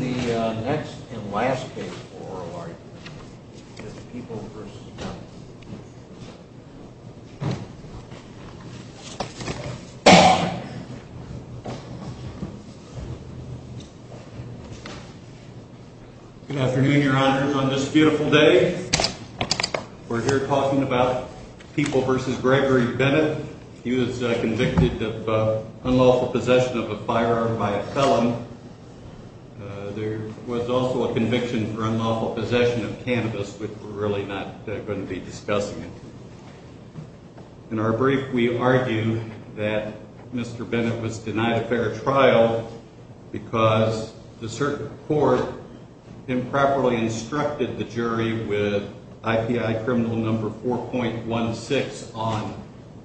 The next and last case for oral argument is People v. Bennett. Good afternoon, Your Honor. On this beautiful day, we're here talking about People v. Gregory Bennett. He was convicted of unlawful possession of a firearm by a felon. There was also a conviction for unlawful possession of cannabis, which we're really not going to be discussing. In our brief, we argue that Mr. Bennett was denied a fair trial because the circuit court improperly instructed the jury with IPI criminal number 4.16 on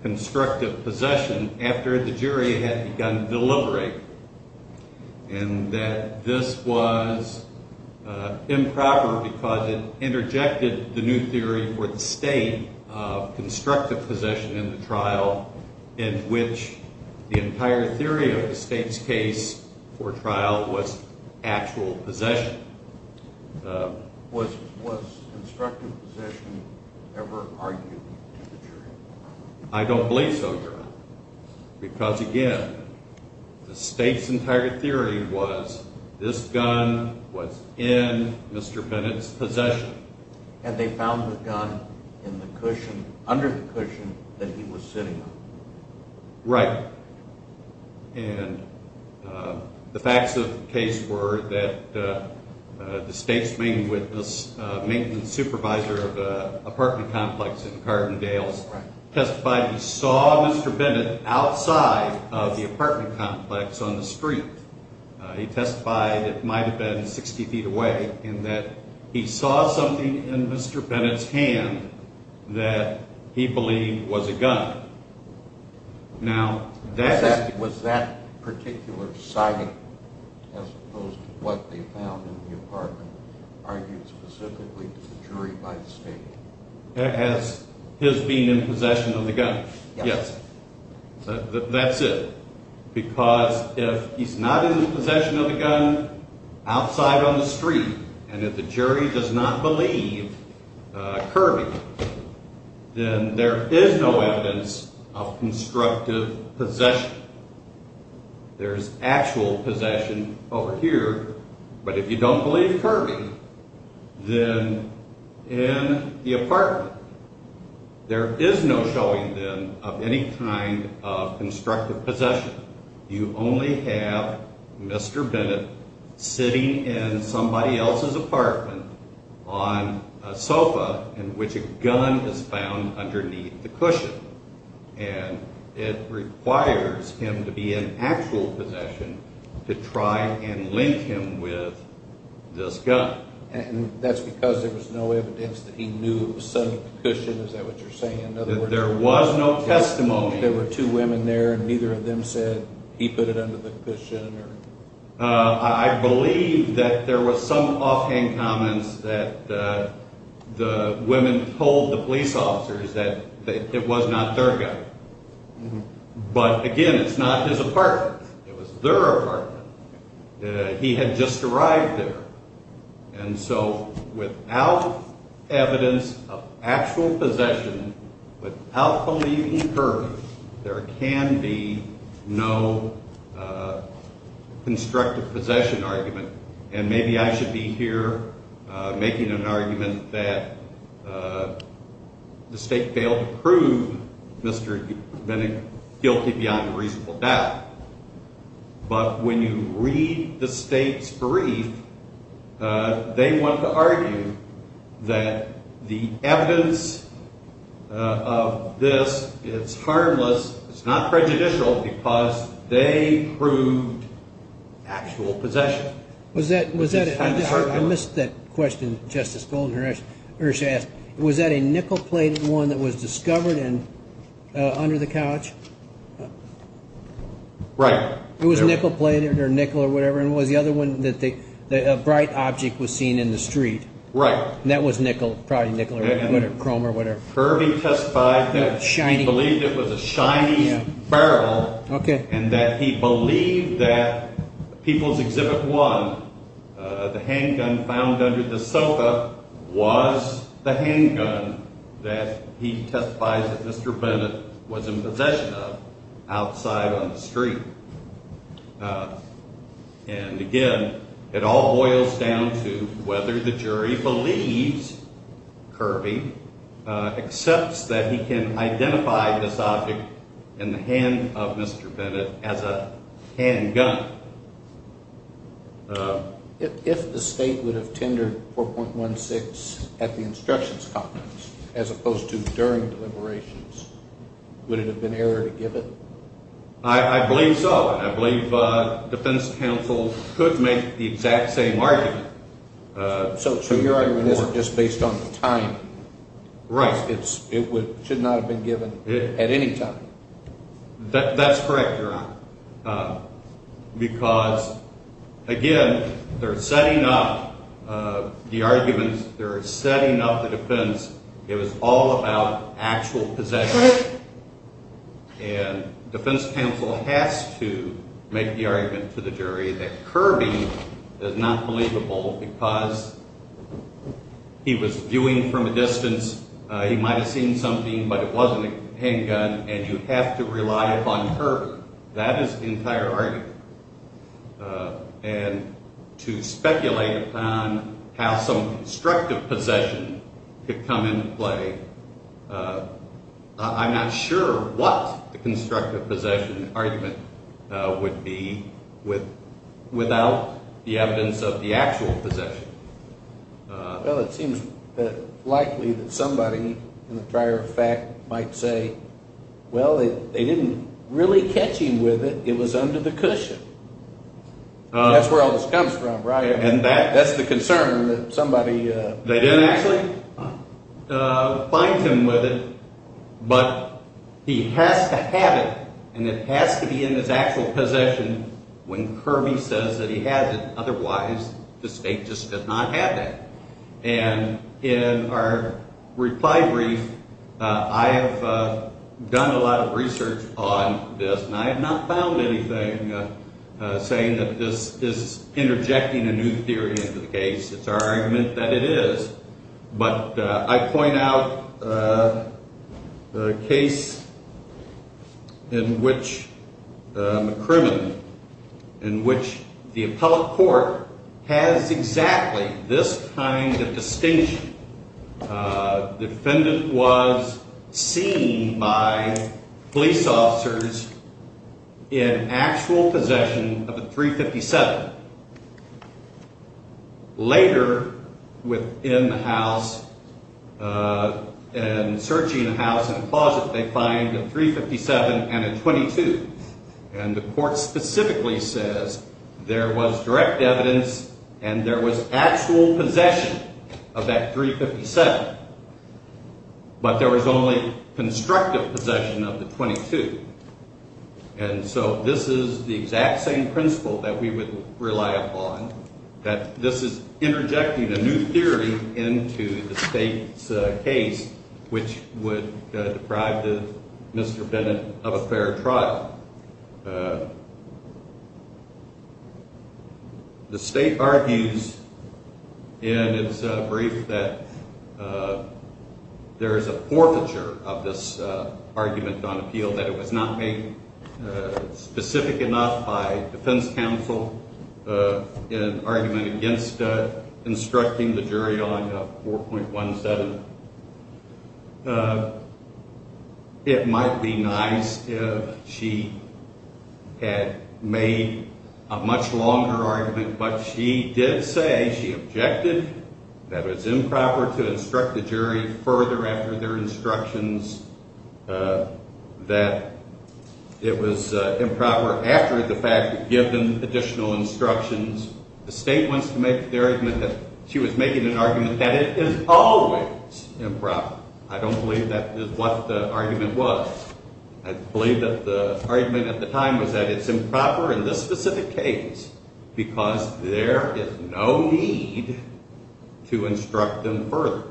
constructive possession after the jury had begun deliberating, and that this was improper because it interjected the new theory for the state of constructive possession in the trial in which the entire theory of the state's case for trial was actual possession. Was constructive possession ever argued to the jury? I don't believe so, Your Honor, because again, the state's entire theory was this gun was in Mr. Bennett's possession. Had they found the gun in the cushion, under the cushion that he was sitting on? Right, and the facts of the case were that the state's main witness, maintenance supervisor of the apartment complex in Cardindales, testified he saw Mr. Bennett outside of the apartment complex on the street. He testified it might have been 60 feet away, and that he saw something in Mr. Bennett's hand that he believed was a gun. Was that particular sighting, as opposed to what they found in the apartment, argued specifically to the jury by the state? As his being in possession of the gun? Yes. That's it, because if he's not in possession of the gun outside on the street, and if the jury does not believe Kirby, then there is no evidence of constructive possession. There's actual possession over here, but if you don't believe Kirby, then in the apartment, there is no showing, then, of any kind of constructive possession. You only have Mr. Bennett sitting in somebody else's apartment on a sofa in which a gun is found underneath the cushion, and it requires him to be in actual possession to try and link him with this gun. And that's because there was no evidence that he knew it was under the cushion, is that what you're saying? There was no testimony. There were two women there, and neither of them said he put it under the cushion. I believe that there were some offhand comments that the women told the police officers that it was not their gun. But, again, it's not his apartment. It was their apartment. He had just arrived there. And so without evidence of actual possession, without believing Kirby, there can be no constructive possession argument. And maybe I should be here making an argument that the State failed to prove Mr. Bennett guilty beyond a reasonable doubt. But when you read the State's brief, they want to argue that the evidence of this is harmless, it's not prejudicial because they proved actual possession. I missed that question, Justice Golden, or should I ask? Was that a nickel-plated one that was discovered under the couch? Right. It was nickel-plated or nickel or whatever, and was the other one that a bright object was seen in the street? Right. And that was probably nickel or chrome or whatever. Kirby testified that he believed it was a shiny barrel and that he believed that People's Exhibit 1, the handgun found under the sofa, was the handgun that he testified that Mr. Bennett was in possession of outside on the street. And, again, it all boils down to whether the jury believes Kirby, accepts that he can identify this object in the hand of Mr. Bennett as a handgun. If the State would have tendered 4.16 at the instructions conference as opposed to during deliberations, would it have been error to give it? I believe so, and I believe defense counsel could make the exact same argument. So your argument isn't just based on time. Right. It should not have been given at any time. That's correct, Your Honor, because, again, they're setting up the arguments. They're setting up the defense. It was all about actual possession. And defense counsel has to make the argument to the jury that Kirby is not believable because he was viewing from a distance. He might have seen something, but it wasn't a handgun, and you have to rely upon Kirby. That is the entire argument. And to speculate upon how some constructive possession could come into play, I'm not sure what the constructive possession argument would be without the evidence of the actual possession. Well, it seems likely that somebody in the prior fact might say, well, they didn't really catch him with it. It was under the cushion. That's where all this comes from, right? And that's the concern that somebody… They didn't actually find him with it, but he has to have it, and it has to be in his actual possession when Kirby says that he has it. And in our reply brief, I have done a lot of research on this, and I have not found anything saying that this is interjecting a new theory into the case. It's our argument that it is. But I point out the case in which McCrimmon, in which the appellate court has exactly this kind of distinction. The defendant was seen by police officers in actual possession of a .357. Later, within the house and searching the house in the closet, they find a .357 and a .22. And the court specifically says there was direct evidence and there was actual possession of that .357, but there was only constructive possession of the .22. And so this is the exact same principle that we would rely upon, that this is interjecting a new theory into the state's case, which would deprive Mr. Bennett of a fair trial. The state argues in its brief that there is a forfeiture of this argument on appeal, that it was not made specific enough by defense counsel in an argument against instructing the jury on a 4.17. It might be nice if she had made a much longer argument, but she did say she objected that it was improper to instruct the jury further after their instructions, that it was improper after the fact to give them additional instructions. The state wants to make the argument that she was making an argument that it is always improper. I don't believe that is what the argument was. I believe that the argument at the time was that it's improper in this specific case because there is no need to instruct them further.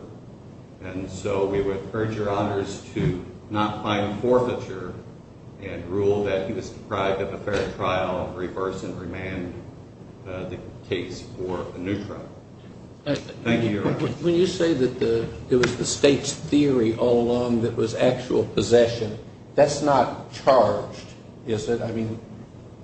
And so we would urge Your Honors to not find forfeiture and rule that he was deprived of a fair trial, and reverse and remand the case for a new trial. Thank you, Your Honors. When you say that it was the state's theory all along that was actual possession, that's not charged, is it?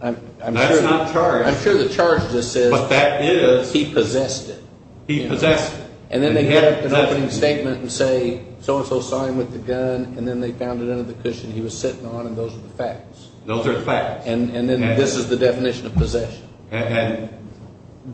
That's not charged. I'm sure the charge is that he possessed it. He possessed it. And then they get an opening statement and say so-and-so saw him with the gun, and then they found it under the cushion he was sitting on, and those are the facts. Those are the facts. And then this is the definition of possession. And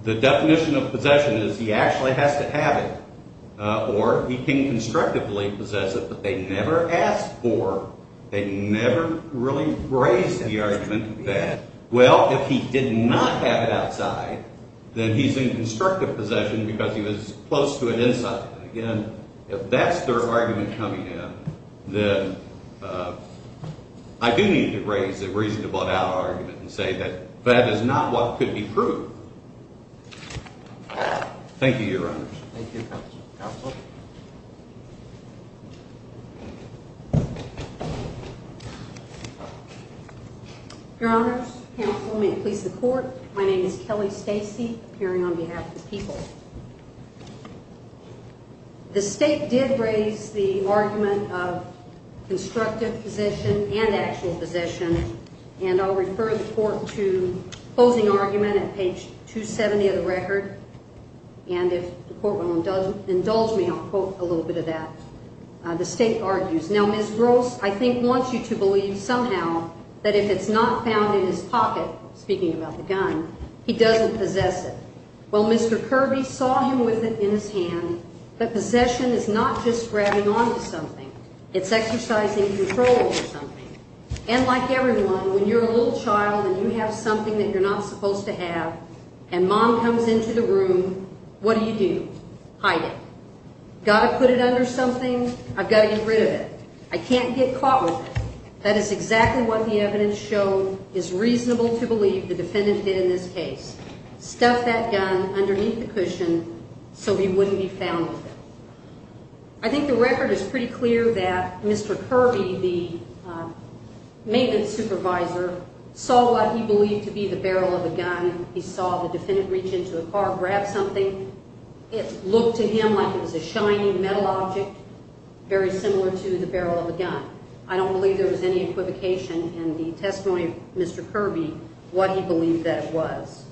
the definition of possession is he actually has to have it, or he can constructively possess it, but they never ask for, they never really raise the argument that, well, if he did not have it outside, then he's in constructive possession because he was close to it inside. Again, if that's their argument coming in, then I do need to raise a reasonable doubt argument and say that that is not what could be proved. Thank you, Your Honors. Thank you, Counsel. Your Honors, counsel, may it please the Court, my name is Kelly Stacy, appearing on behalf of the people. The State did raise the argument of constructive possession and actual possession, and I'll refer the Court to closing argument at page 270 of the record, and if the Court will indulge me, I'll quote a little bit of that. The State argues, now, Ms. Gross, I think wants you to believe somehow that if it's not found in his pocket, speaking about the gun, he doesn't possess it. Well, Mr. Kirby saw him with it in his hand, but possession is not just grabbing onto something, it's exercising control over something. And like everyone, when you're a little child and you have something that you're not supposed to have, and mom comes into the room, what do you do? Hide it. Got to put it under something? I've got to get rid of it. I can't get caught with it. That is exactly what the evidence showed is reasonable to believe the defendant did in this case. Stuff that gun underneath the cushion so he wouldn't be found with it. I think the record is pretty clear that Mr. Kirby, the maintenance supervisor, saw what he believed to be the barrel of a gun. He saw the defendant reach into the car, grab something. It looked to him like it was a shiny metal object, very similar to the barrel of a gun. I don't believe there was any equivocation in the testimony of Mr. Kirby, what he believed that it was.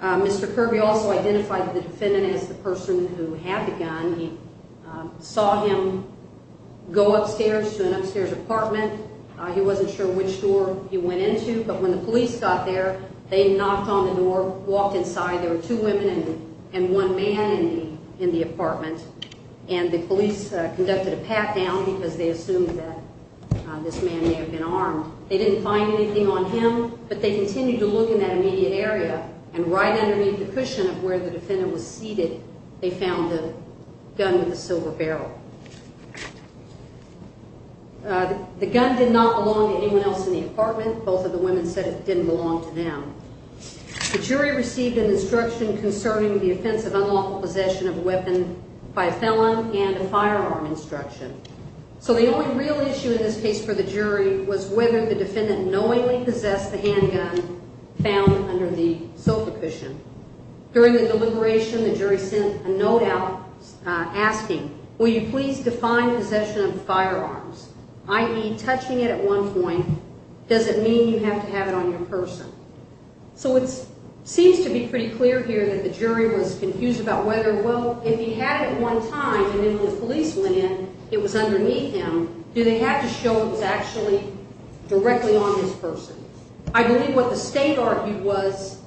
Mr. Kirby also identified the defendant as the person who had the gun. He saw him go upstairs to an upstairs apartment. He wasn't sure which door he went into, but when the police got there, they knocked on the door, walked inside. There were two women and one man in the apartment, and the police conducted a pat-down because they assumed that this man may have been armed. They didn't find anything on him, but they continued to look in that immediate area, and right underneath the cushion of where the defendant was seated, they found the gun with the silver barrel. The gun did not belong to anyone else in the apartment. Both of the women said it didn't belong to them. The jury received an instruction concerning the offense of unlawful possession of a weapon by a felon and a firearm instruction. So the only real issue in this case for the jury was whether the defendant knowingly possessed the handgun found under the sofa cushion. During the deliberation, the jury sent a note out asking, Will you please define possession of firearms? i.e., touching it at one point, does it mean you have to have it on your person? So it seems to be pretty clear here that the jury was confused about whether, well, if he had it at one time, and then when the police went in, it was underneath him, do they have to show it was actually directly on this person? I believe what the state argued was,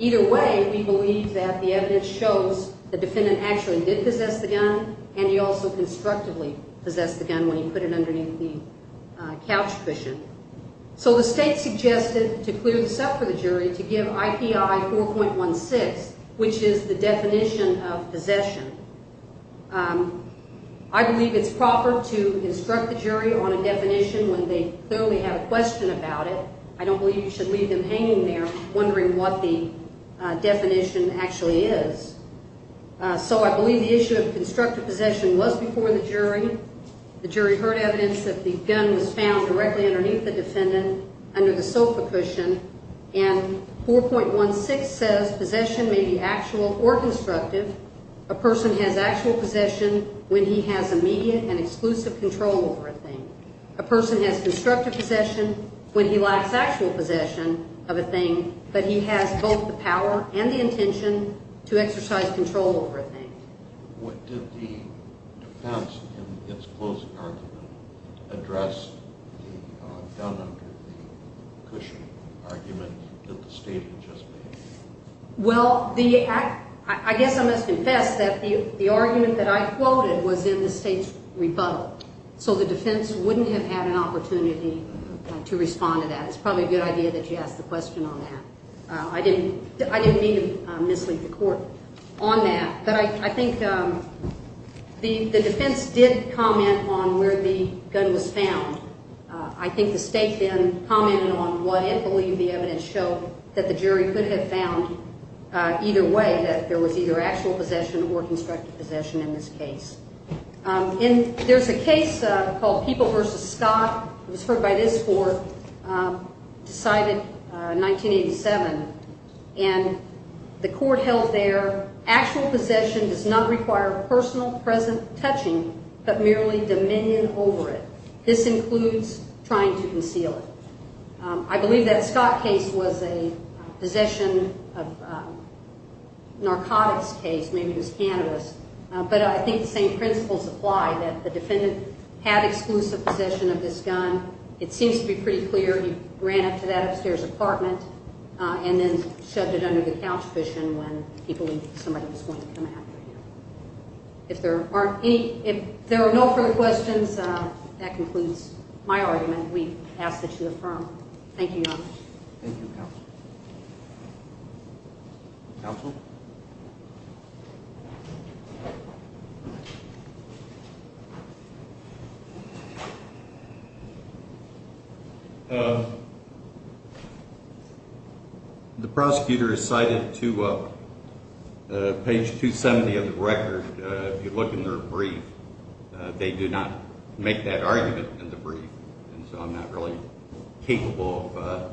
either way, we believe that the evidence shows the defendant actually did possess the gun and he also constructively possessed the gun when he put it underneath the couch cushion. So the state suggested to clear this up for the jury to give IPI 4.16, which is the definition of possession. I believe it's proper to instruct the jury on a definition when they clearly have a question about it. I don't believe you should leave them hanging there wondering what the definition actually is. So I believe the issue of constructive possession was before the jury. The jury heard evidence that the gun was found directly underneath the defendant under the sofa cushion, and 4.16 says possession may be actual or constructive. A person has actual possession when he has immediate and exclusive control over a thing. A person has constructive possession when he lacks actual possession of a thing, but he has both the power and the intention to exercise control over a thing. Well, I guess I must confess that the argument that I quoted was in the state's rebuttal. So the defense wouldn't have had an opportunity to respond to that. It's probably a good idea that you ask the question on that. I didn't mean to mislead the court on that, but I think the defense did comment on where the gun was found. I think the state then commented on what it believed the evidence showed that the jury could have found either way, that there was either actual possession or constructive possession in this case. There's a case called People v. Scott. It was heard by this court, decided 1987, and the court held there, actual possession does not require personal present touching but merely dominion over it. This includes trying to conceal it. I believe that Scott case was a possession of narcotics case, maybe it was cannabis, but I think the same principles apply that the defendant had exclusive possession of this gun. It seems to be pretty clear he ran up to that upstairs apartment and then shoved it under the couch cushion when he believed somebody was going to come after him. If there are no further questions, that concludes my argument. We ask that you affirm. Thank you, Your Honor. Thank you, counsel. Counsel? The prosecutor is cited to page 270 of the record. If you look in their brief, they do not make that argument in the brief, and so I'm not really capable of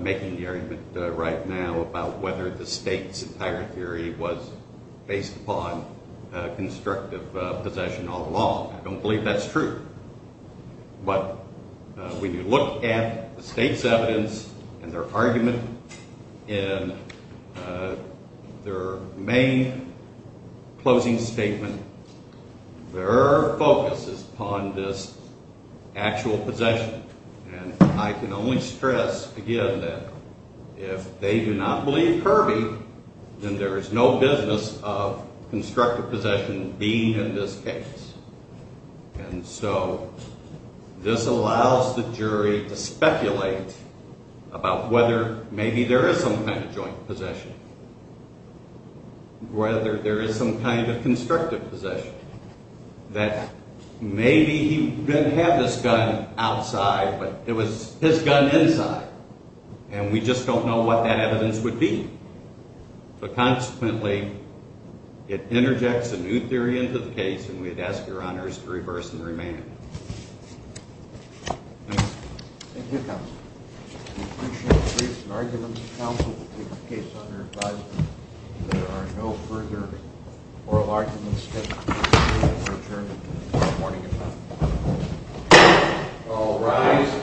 making the argument right now about whether the state's entire theory was based upon constructive possession all along. I don't believe that's true. But when you look at the state's evidence and their argument in their main closing statement, their focus is upon this actual possession, and I can only stress again that if they do not believe Kirby, then there is no business of constructive possession being in this case. And so this allows the jury to speculate about whether maybe there is some kind of joint possession, whether there is some kind of constructive possession, that maybe he didn't have this gun outside but it was his gun inside, and we just don't know what that evidence would be. But consequently, it interjects a new theory into the case, and we'd ask Your Honors to reverse and remand it. Thank you. Thank you, counsel. We appreciate the briefs and arguments, counsel, to take the case under advisement. If there are no further oral arguments, the hearing is adjourned until tomorrow morning at 9. All rise.